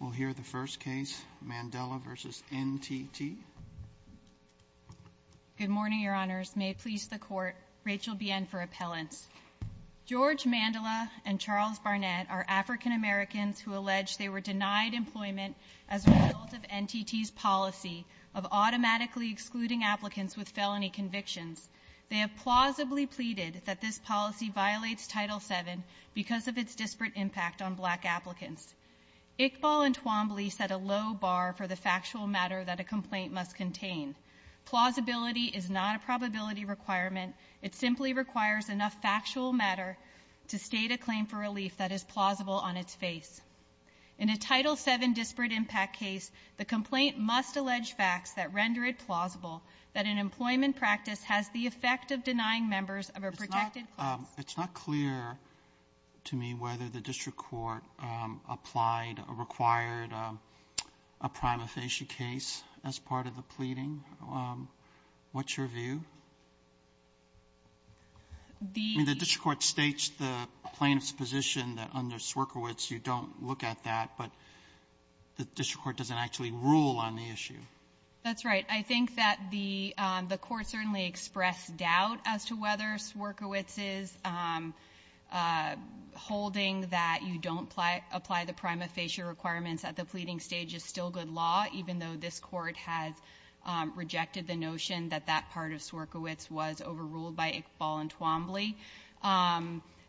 We'll hear the first case, Mandela v. NTT. Good morning, Your Honors. May it please the Court, Rachel Bien for appellants. George Mandela and Charles Barnett are African Americans who allege they were denied employment as a result of NTT's policy of automatically excluding applicants with felony convictions. They have plausibly pleaded that this policy violates Title VII because of its disparate impact on black applicants. Iqbal and Twombly set a low bar for the factual matter that a complaint must contain. Plausibility is not a probability requirement. It simply requires enough factual matter to state a claim for relief that is plausible on its face. In a Title VII disparate impact case, the complaint must allege facts that render it plausible that an employment practice has the effect of denying members of a protected class. It's not clear to me whether the district court applied or required a prima facie case as part of the pleading. What's your view? I mean, the district court states the plaintiff's position that under Swierkiewicz you don't look at that, but the district court doesn't actually rule on the issue. That's right. I think that the court certainly expressed doubt as to whether Swierkiewicz's holding that you don't apply the prima facie requirements at the pleading stage is still good law, even though this Court has rejected the notion that that part of Swierkiewicz was overruled by Iqbal and Twombly.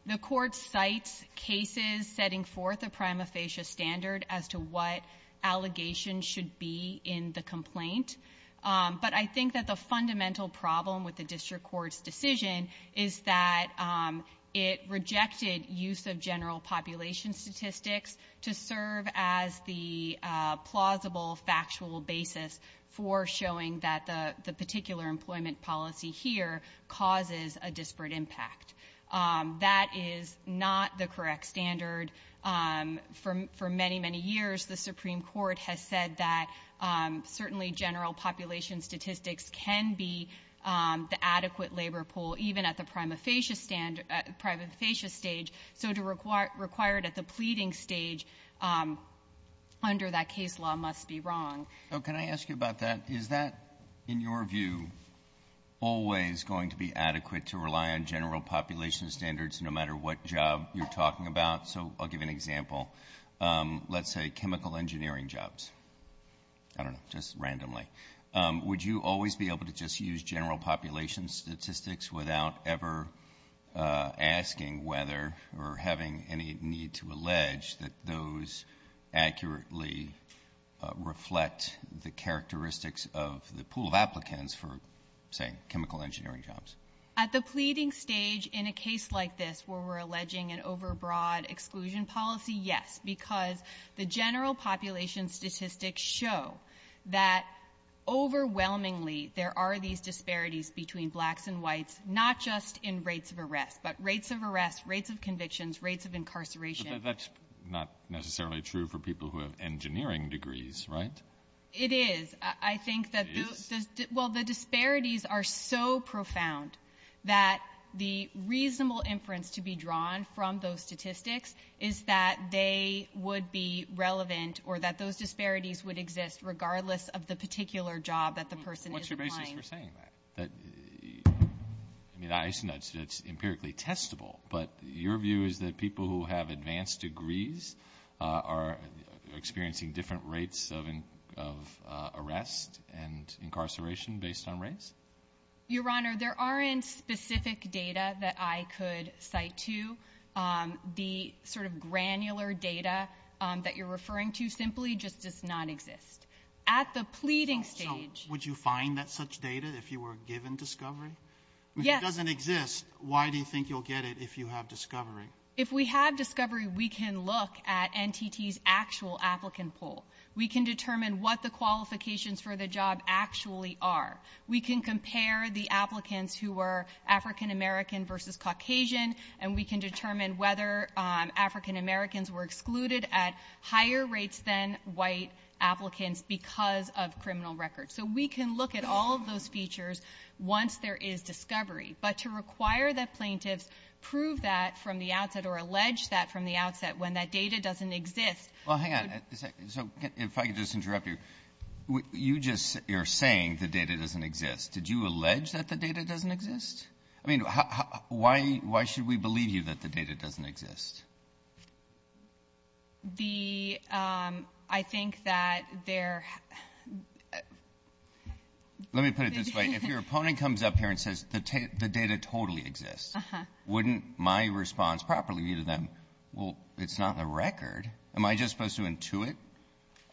The Court cites cases setting forth a prima facie standard as to what allegations should be in the complaint. But I think that the fundamental problem with the district court's decision is that it rejected use of general population statistics to serve as the plausible factual basis for showing that the particular employment policy here causes a disparate impact. That is not the correct standard. For many, many years the Supreme Court has said that certainly general population statistics can be the adequate labor pool, even at the prima facie standard at the prima facie stage. So to require it at the pleading stage under that case law must be wrong. So can I ask you about that? Is that, in your view, always going to be adequate to rely on general population standards no matter what job you're talking about? So I'll give an example. Let's say chemical engineering jobs. I don't know. Just randomly. Would you always be able to just use general population statistics without ever asking whether or having any need to allege that those accurately reflect the characteristics of the pool of applicants for, say, chemical engineering jobs? At the pleading stage in a case like this where we're alleging an overbroad exclusion policy, yes, because the general population statistics show that overwhelmingly there are these disparities between blacks and whites, not just in rates of arrest, but rates of arrest, rates of convictions, rates of incarceration. But that's not necessarily true for people who have engineering degrees, right? It is. I think that the disparities are so profound that the reasonable inference to be drawn from those statistics is that they would be relevant or that those disparities would exist regardless of the particular job that the person is applying. What's your basis for saying that? I mean, I assume that's empirically testable, but your view is that people who have advanced degrees are experiencing different rates of arrest and incarceration based on race? Your Honor, there aren't specific data that I could cite to. The sort of granular data that you're referring to simply just does not exist. At the pleading stage... So, would you find that such data if you were given discovery? Yes. If it doesn't exist, why do you think you'll get it if you have discovery? If we have discovery, we can look at NTT's actual applicant poll. We can determine what the qualifications for the job actually are. We can compare the applicants who were African American versus Caucasian, and we can determine whether African Americans were excluded at higher rates than white applicants because of criminal records. So, we can look at all of those features once there is discovery, but to require that plaintiffs prove that from the outset or allege that from the outset when that data doesn't exist... Well, hang on a second. So, if I could just interrupt you. You're saying the data doesn't exist. Did you allege that the data doesn't exist? I mean, why should we believe you that the data doesn't exist? The... I think that there... Let me put it this way. If your opponent comes up here and says the data totally exists, wouldn't my response properly be to them, well, it's not a record. Am I just supposed to intuit?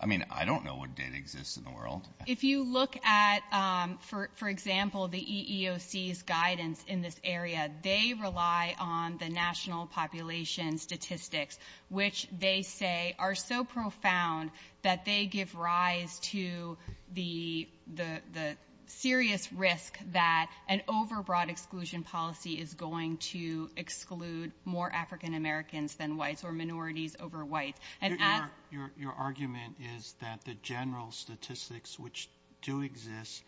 I mean, I don't know what data exists in the world. If you look at, for example, the EEOC's guidance in this area, they rely on the national population statistics, which they say are so profound that they give rise to the serious risk that an overbroad exclusion policy is going to exclude more African Americans than whites or minorities over whites. Your argument is that the general statistics which do exist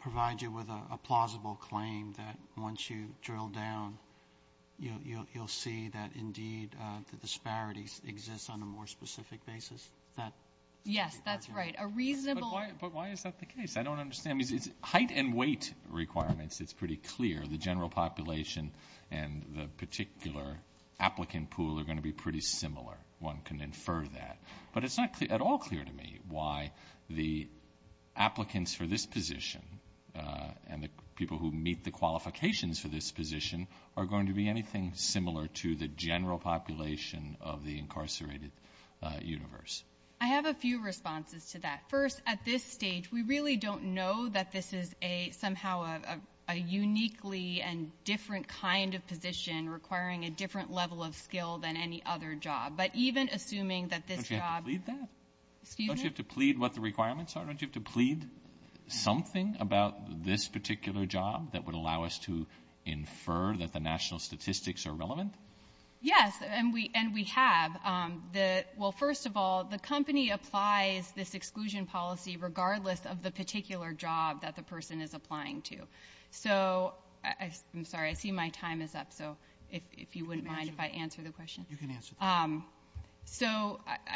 provide you with a plausible claim that once you drill down, you'll see that indeed the disparities exist on a more specific basis? Yes, that's right. A reasonable... But why is that the case? I don't understand. Height and weight requirements, it's pretty clear. The general population and the particular applicant pool are going to be pretty similar. One can infer that. But it's not at all clear to me why the applicants for this position and the people who meet the qualifications for this position are going to be anything similar to the general population of the incarcerated universe. I have a few responses to that. First, at this stage, we really don't know that this is somehow a uniquely and different kind of position Don't you have to plead what the requirements are? Don't you have to plead something about this particular job that would allow us to infer that the national statistics are relevant? Yes, and we have. First of all, the company applies this exclusion policy regardless of the particular job that the person is applying to. I'm sorry, I see my time is up. If you wouldn't mind if I answer the question. I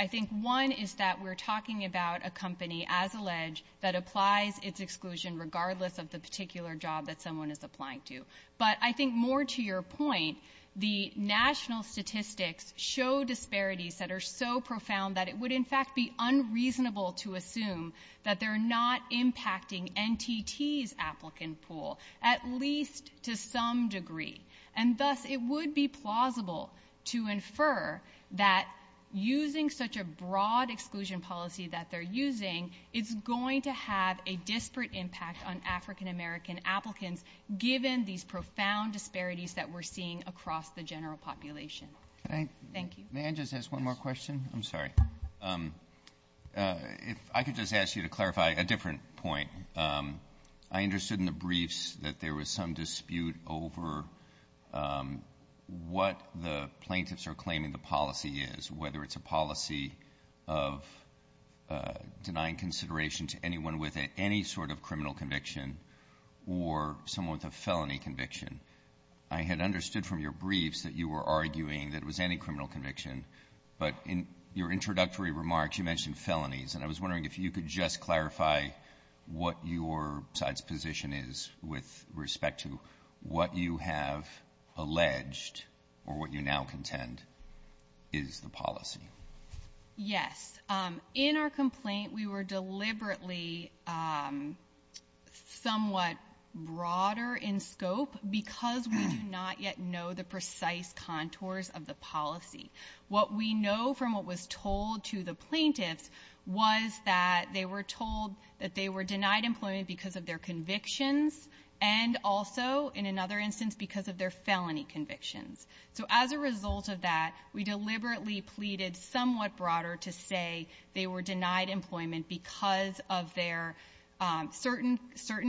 think one is that we're talking about a company, as alleged, that applies its exclusion regardless of the particular job that someone is applying to. But I think more to your point, the national statistics show disparities that are so profound that it would in fact be unreasonable to assume that they're not impacting NTT's applicant pool, at least to some degree. And thus, it would be plausible to infer that using such a broad exclusion policy that they're using is going to have a disparate impact on African American applicants given these profound disparities that we're seeing across the general population. Thank you. May I just ask one more question? I'm sorry. If I could just ask you to clarify a different point. I understood in the briefs that there was some dispute over what the plaintiffs are claiming the policy is, whether it's a policy of denying consideration to anyone with any sort of criminal conviction or someone with a felony conviction. I had understood from your briefs that you were arguing that it was any criminal conviction. But in your introductory remarks, you mentioned felonies. And I was wondering if you could just clarify what your side's position is with respect to what you have alleged or what you now contend is the policy. Yes. In our complaint, we were deliberately somewhat broader in scope because we do not yet know the precise contours of the policy. What we know from what was told to the plaintiffs was that they were told that they were denied employment because of their convictions and also, in another instance, because of their felony convictions. So as a result of that, we deliberately pleaded somewhat broader to say they were denied employment because of their certain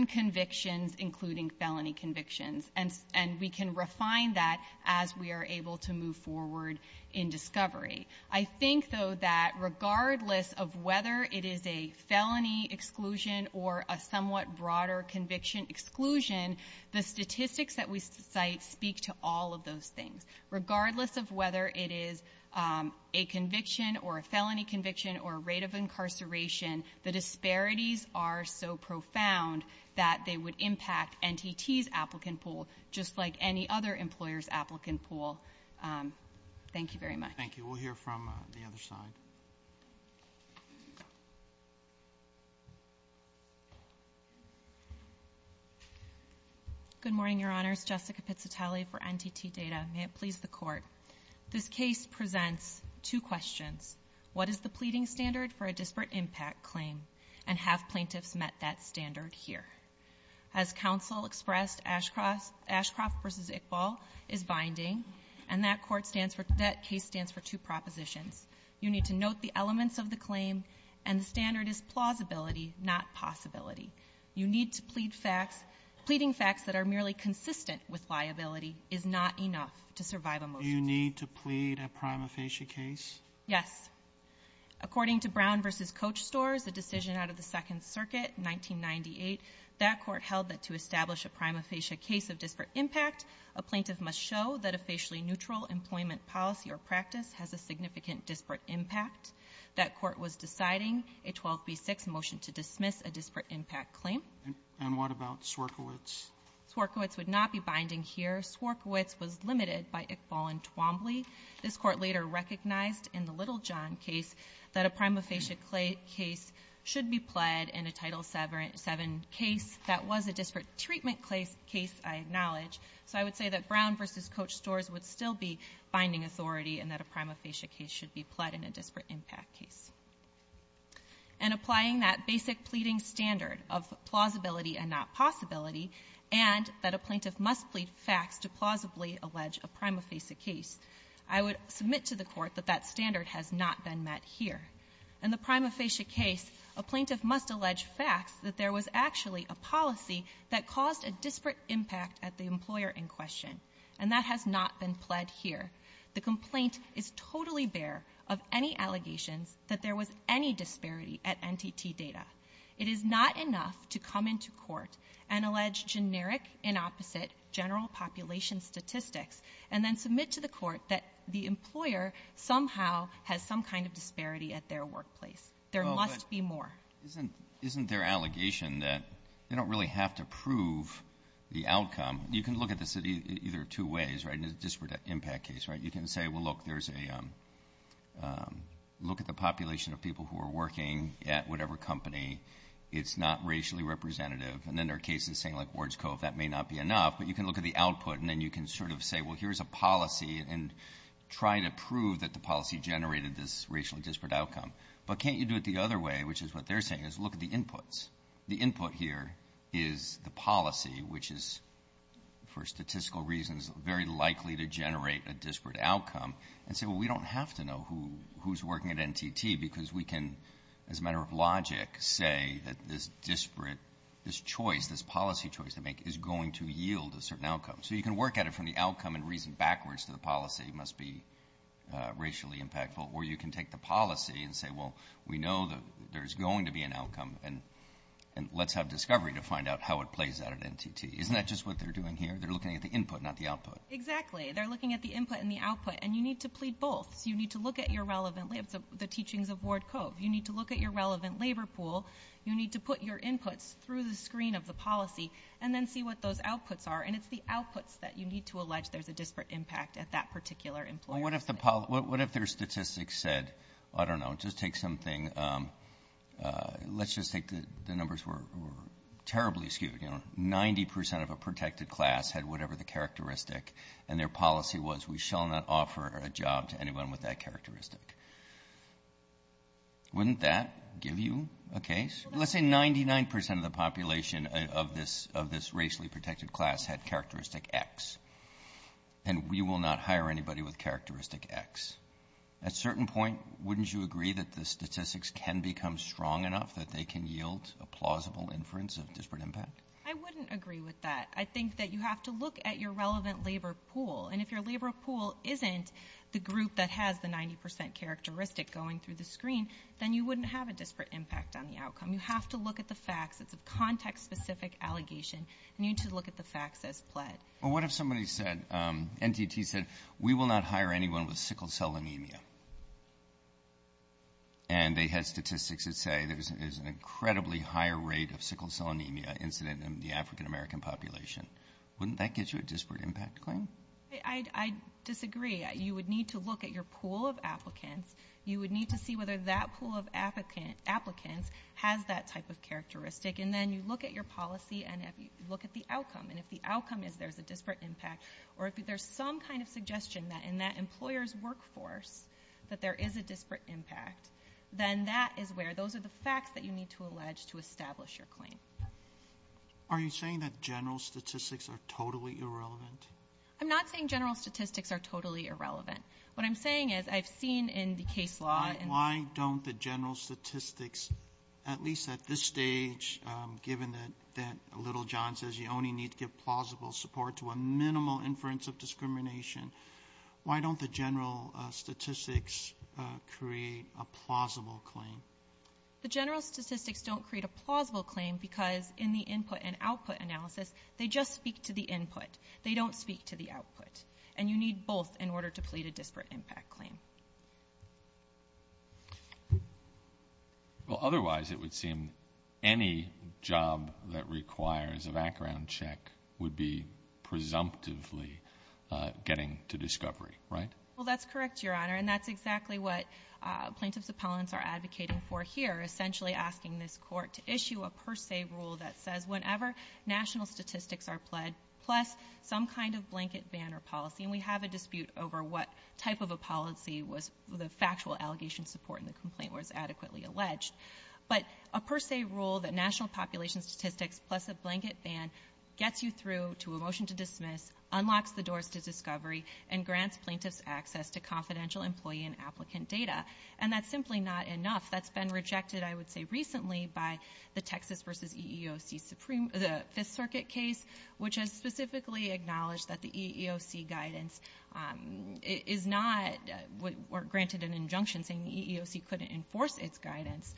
convictions, including felony convictions. And we can refine that as we are able to move forward in discovery. I think, though, that regardless of whether it is a somewhat broader conviction exclusion, the statistics that we cite speak to all of those things. Regardless of whether it is a conviction or a felony conviction or a rate of incarceration, the disparities are so profound that they would impact NTT's applicant pool, just like any other employer's applicant pool. Thank you very much. Thank you. We'll hear from the other side. Good morning, Your Honors. Jessica Pizzatelli for NTT Data. May it please the Court. This case presents two questions. What is the pleading standard for a disparate impact claim, and have plaintiffs met that standard here? As counsel expressed, Ashcroft v. Iqbal is binding, and that case stands for two propositions. You need to note the elements of the claim, and the standard is plausibility, not possibility. You need to plead facts. Pleading facts that are merely consistent with liability is not enough to survive a motion. Do you need to plead a prima facie case? Yes. According to Brown v. Coach Stores, a decision out of the Second Circuit in 1998, that court held that to establish a prima facie case of disparate impact, a plaintiff must show that a facially neutral employment policy or practice has a significant disparate impact. That court was deciding a 12B6 motion to dismiss a disparate impact claim. And what about Swierkiewicz? Swierkiewicz would not be binding here. Swierkiewicz was limited by Iqbal and Twombly. This court later recognized in the Littlejohn case that a prima facie case should be pled in a Title VII case. That was a disparate treatment case, I acknowledge. So I would say that Brown v. Coach Stores would still be binding authority, and that a prima facie case should be pled in a And applying that basic pleading standard of plausibility and not possibility and that a plaintiff must plead facts to plausibly allege a prima facie case, I would submit to the Court that that standard has not been met here. In the prima facie case, a plaintiff must allege facts that there was actually a policy that caused a disparate impact at the employer in question, and that has not been pled here. The complaint is totally bare of any allegations that there was any disparity at NTT data. It is not enough to come into court and allege generic, inopposite, general population statistics, and then submit to the Court that the employer somehow has some kind of disparity at their workplace. There must be more. Isn't there allegation that they don't really have to prove the outcome? You can look at this either two ways, right? This is a disparate impact case, right? You can say, well, look, there's a look at the population of people who are working at whatever company. It's not racially representative. And then there are cases saying, like Ward's Cove, that may not be enough, but you can look at the output, and then you can sort of say, well, here's a policy, and try to prove that the policy generated this racially impactful. And then you can look at the inputs. The input here is the policy, which is, for statistical reasons, very likely to generate a disparate outcome, and say, well, we don't have to know who's working at NTT, because we can, as a matter of logic, say that this disparate, this choice, this policy choice they make is going to yield a certain outcome. So you can work at it from the outcome and reason backwards to the policy must be racially impactful. Or you can take the policy and say, well, we know that there's going to be an outcome, and let's have discovery to find out how it plays out at NTT. Isn't that just what they're doing here? They're looking at the input, not the output. Exactly. They're looking at the input and the output. And you need to plead both. So you need to look at your relevant, the teachings of Ward Cove. You need to look at your relevant labor pool. You need to put your inputs through the screen of the policy, and then see what those outputs are. And it's the outputs that you need to allege there's a disparate impact at that particular employer. Well, what if their statistics said, I don't know, just take something. Let's just take the numbers were terribly skewed. You know, 90 percent of a protected class had whatever the characteristic, and their policy was we shall not offer a job to anyone with that characteristic. Wouldn't that give you a case? Well, that's a good question. Let's say 99 percent of the population of this racially protected class had characteristic X, and we will not hire anybody with characteristic X. At a certain point, wouldn't you agree that the statistics can become strong enough that they can yield a plausible inference of disparate impact? I wouldn't agree with that. I think that you have to look at your relevant labor pool. And if your labor pool isn't the group that has the 90 percent characteristic going through the screen, then you wouldn't have a disparate impact on the outcome. You have to look at the facts. It's a context-specific allegation. You need to look at the facts as pled. Well, what if somebody said, NTT said, we will not hire anyone with sickle cell anemia. And they had statistics that say there's an incredibly higher rate of sickle cell anemia incident in the African-American population. Wouldn't that get you a disparate impact claim? I disagree. You would need to look at your pool of applicants. You would need to see whether that pool of applicants has that type of characteristic. And then you look at your policy and look at the outcome. And if the outcome is there's a disparate impact, or if there's some kind of suggestion that in that employer's workforce that there is a disparate impact, then that is where those are the facts that you need to allege to establish your claim. Are you saying that general statistics are totally irrelevant? I'm not saying general statistics are totally irrelevant. What I'm saying is I've seen in the case law... Why don't the general statistics, at least at this stage, given that Little John says you only need to give plausible support to a minimal inference of discrimination, why don't the general statistics create a plausible claim? The general statistics don't create a plausible claim because in the input and output analysis, they just speak to the input. They don't speak to the Well, otherwise it would seem any job that requires a background check would be presumptively getting to discovery, right? Well, that's correct, Your Honor, and that's exactly what plaintiffs appellants are advocating for here, essentially asking this court to issue a per se rule that says whenever national statistics are pled, plus some kind of blanket ban or policy, and we have a dispute over what type of a policy was the factual allegation support in the complaint was adequately alleged, but a per se rule that national population statistics plus a blanket ban gets you through to a motion to dismiss, unlocks the doors to discovery, and grants plaintiffs access to confidential employee and applicant data, and that's simply not enough. That's been rejected, I would say, recently by the Texas v. EEOC Fifth Circuit case, which has specifically acknowledged that the EEOC guidance is not or granted an injunction saying the EEOC couldn't enforce its guidance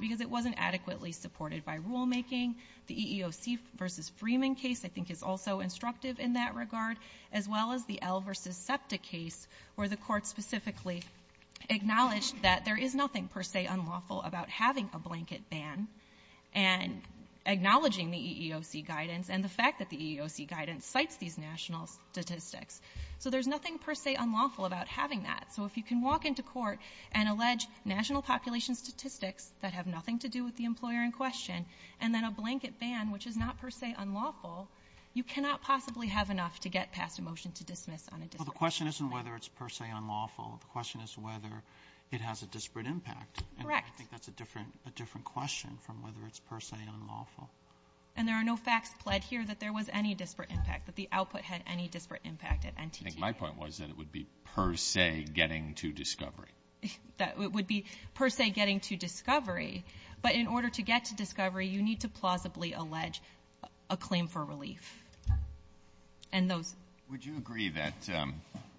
because it wasn't adequately supported by rulemaking. The EEOC v. Freeman case I think is also instructive in that regard, as well as the L v. SEPTA case where the Court specifically acknowledged that there is nothing per se unlawful about having a blanket ban and acknowledging the EEOC guidance and the fact that the EEOC guidance cites these national statistics. So there's nothing per se unlawful about having that. So if you can walk into court and allege national population statistics that have nothing to do with the employer in question and then a blanket ban, which is not per se unlawful, you cannot possibly have enough to get past a motion to dismiss on a dispute. Roberts. Well, the question isn't whether it's per se unlawful. The question is whether it has a disparate impact. Correct. And I think that's a different question from whether it's per se unlawful. And there are no facts pled here that there was any disparate impact, that the output had any disparate impact at NTT. I think my point was that it would be per se getting to discovery. It would be per se getting to discovery. But in order to get to discovery, you need to plausibly allege a claim for relief. And those — Would you agree that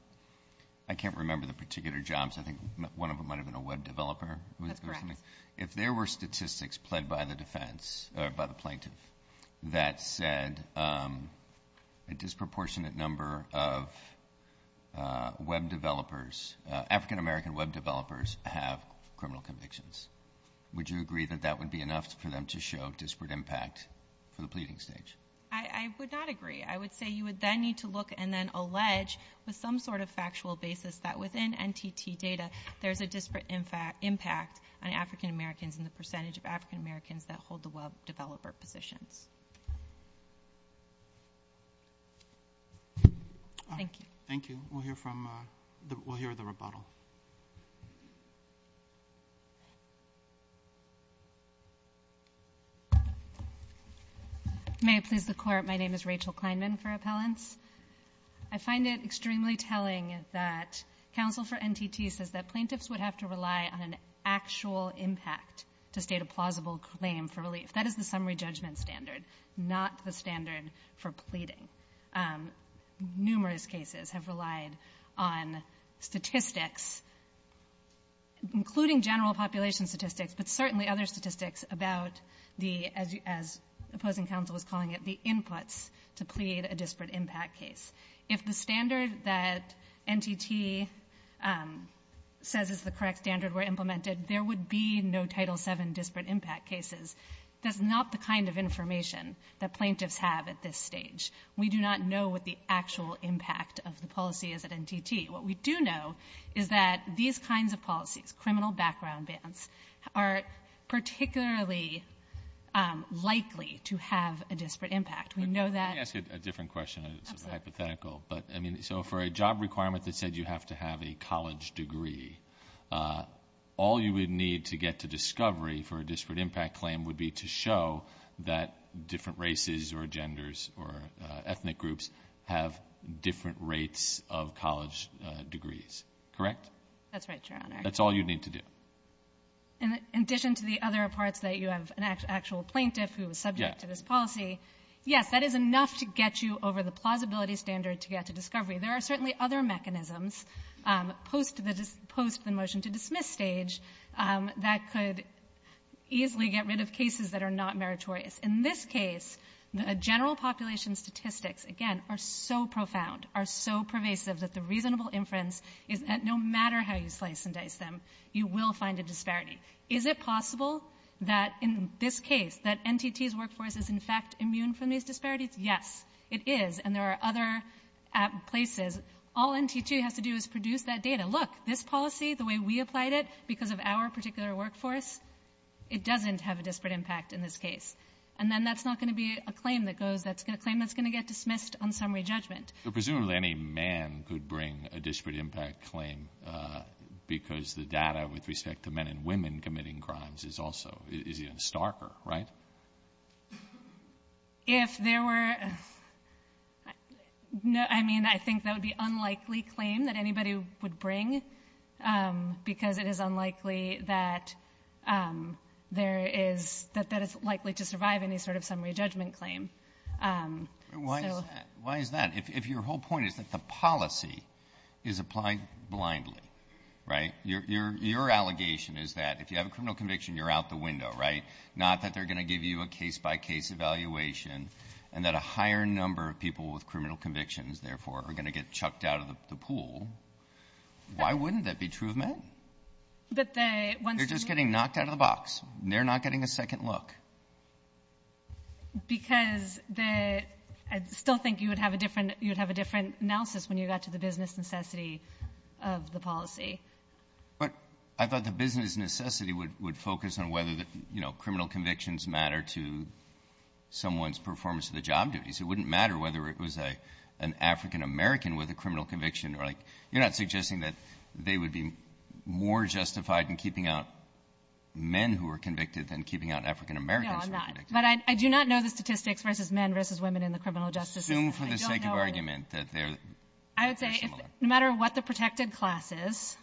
— I can't remember the particular jobs. I think one of them might have been a web developer. That's correct. If there were statistics pled by the defense, or by the plaintiff, that said a disproportionate number of web developers, African-American web developers, have criminal convictions, would you agree that that would be enough for them to show disparate impact for the pleading stage? I would not agree. I would say you would then need to look and then allege with some sort of factual basis that within NTT data there's a disparate impact on African-Americans and the percentage of African-Americans that hold the web developer positions. Thank you. Thank you. We'll hear from — we'll hear the rebuttal. May it please the Court, my name is Rachel Kleinman for appellants. I find it extremely telling that counsel for NTT says that plaintiffs would have to rely on an actual impact to state a plausible claim for relief. That is the summary judgment standard, not the standard for pleading. Numerous cases have relied on statistics, including general population statistics, but certainly other statistics about the, as opposing counsel was calling it, the inputs to plead a disparate impact case. If the standard that NTT says is the correct standard were implemented, there would be no Title VII disparate impact cases. That's not the kind of information that plaintiffs have at this stage. We do not know what the actual impact of the policy is at NTT. What we do know is that these kinds of policies, criminal background bans, are particularly likely to have a disparate impact. We know that. Let me ask you a different question. It's hypothetical. So for a job requirement that said you have to have a college degree, all you would need to get to discovery for a disparate impact claim would be to show that different races or genders or ethnic groups have different rates of college degrees. Correct? That's right, Your Honor. That's all you need to do. In addition to the other parts that you have an actual plaintiff who is subject to this policy, yes, that is enough to get you over the plausibility standard to get to discovery. There are certainly other mechanisms post the motion-to-dismiss stage that could easily get rid of cases that are not meritorious. In this case, the general population statistics, again, are so profound, are so pervasive that the reasonable inference is that no matter how you slice and dice them, you will find a disparity. Is it possible that in this case that NTT's workforce is in fact immune from these disparities? Yes, it is. And there are other places. All NTT has to do is produce that data. Look, this policy, the way we applied it because of our particular workforce, it doesn't have a disparate impact in this case. And then that's not going to be a claim that goes that's going to claim that's going to get dismissed on summary judgment. Presumably any man could bring a disparate impact claim because the data with respect to men and women committing crimes is also, is even starker, right? If there were, I mean, I think that would be an unlikely claim that anybody would bring because it is unlikely that there is, that that is likely to survive any sort of summary judgment claim. Why is that? If your whole point is that the policy is applied blindly, right? Your allegation is that if you have a criminal conviction, you're out the window, right? Not that they're going to give you a case-by-case evaluation and that a higher number of people with criminal convictions, therefore, are going to get chucked out of the pool. Why wouldn't that be true of men? They're just getting knocked out of the box. They're not getting a second look. Because the, I still think you would have a different, you would have a different analysis when you got to the business necessity of the policy. But I thought the business necessity would, would focus on whether the, you know, criminal convictions matter to someone's performance of the job duties. It wouldn't matter whether it was a, an African American with a criminal conviction or like, you're not suggesting that they would be more justified in keeping out men who are convicted than keeping out African Americans who are convicted. No, I'm not. But I do not know the statistics versus men versus women in the criminal justice system. I don't know. Assume for the sake of argument that they're similar. I would say no matter what the protected class is,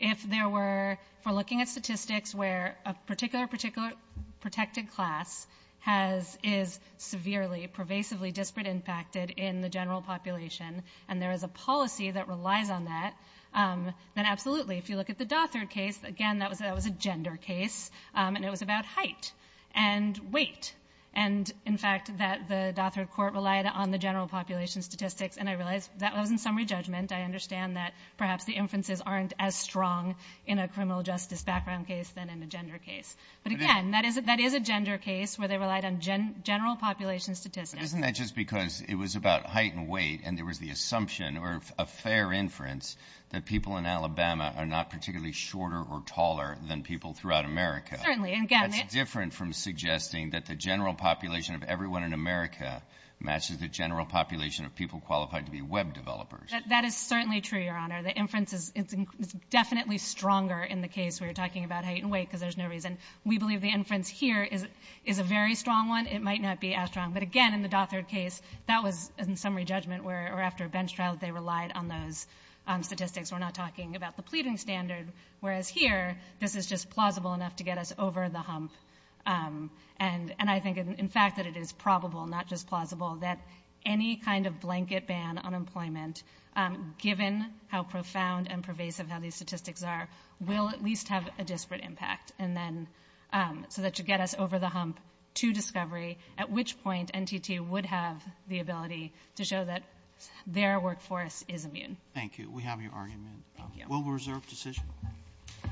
if there were, if we're looking at statistics where a particular, particular protected class has, is severely, pervasively disparate impacted in the general population and there is a policy that relies on that, then absolutely. If you look at the Dothert case, again, that was, that was a gender case. And it was about height and weight. And in fact, that the Dothert court relied on the general population statistics and I realize that was in summary judgment. I understand that perhaps the inferences aren't as strong in a criminal justice background case than in a gender case. But again, that is, that is a gender case where they relied on general population statistics. But isn't that just because it was about height and weight and there was the shorter or taller than people throughout America. Certainly. That's different from suggesting that the general population of everyone in America matches the general population of people qualified to be web developers. That is certainly true, Your Honor. The inference is definitely stronger in the case where you're talking about height and weight because there's no reason. We believe the inference here is a very strong one. It might not be as strong. But again, in the Dothert case, that was in summary judgment where after a bench trial they relied on those statistics. We're not talking about the pleading standard. Whereas here, this is just plausible enough to get us over the hump. And I think in fact that it is probable, not just plausible, that any kind of blanket ban on employment, given how profound and pervasive how these statistics are, will at least have a disparate impact. And then, so that should get us over the hump to discovery at which point NTT would have the ability to show that their workforce is immune. Thank you. We have your argument. Thank you.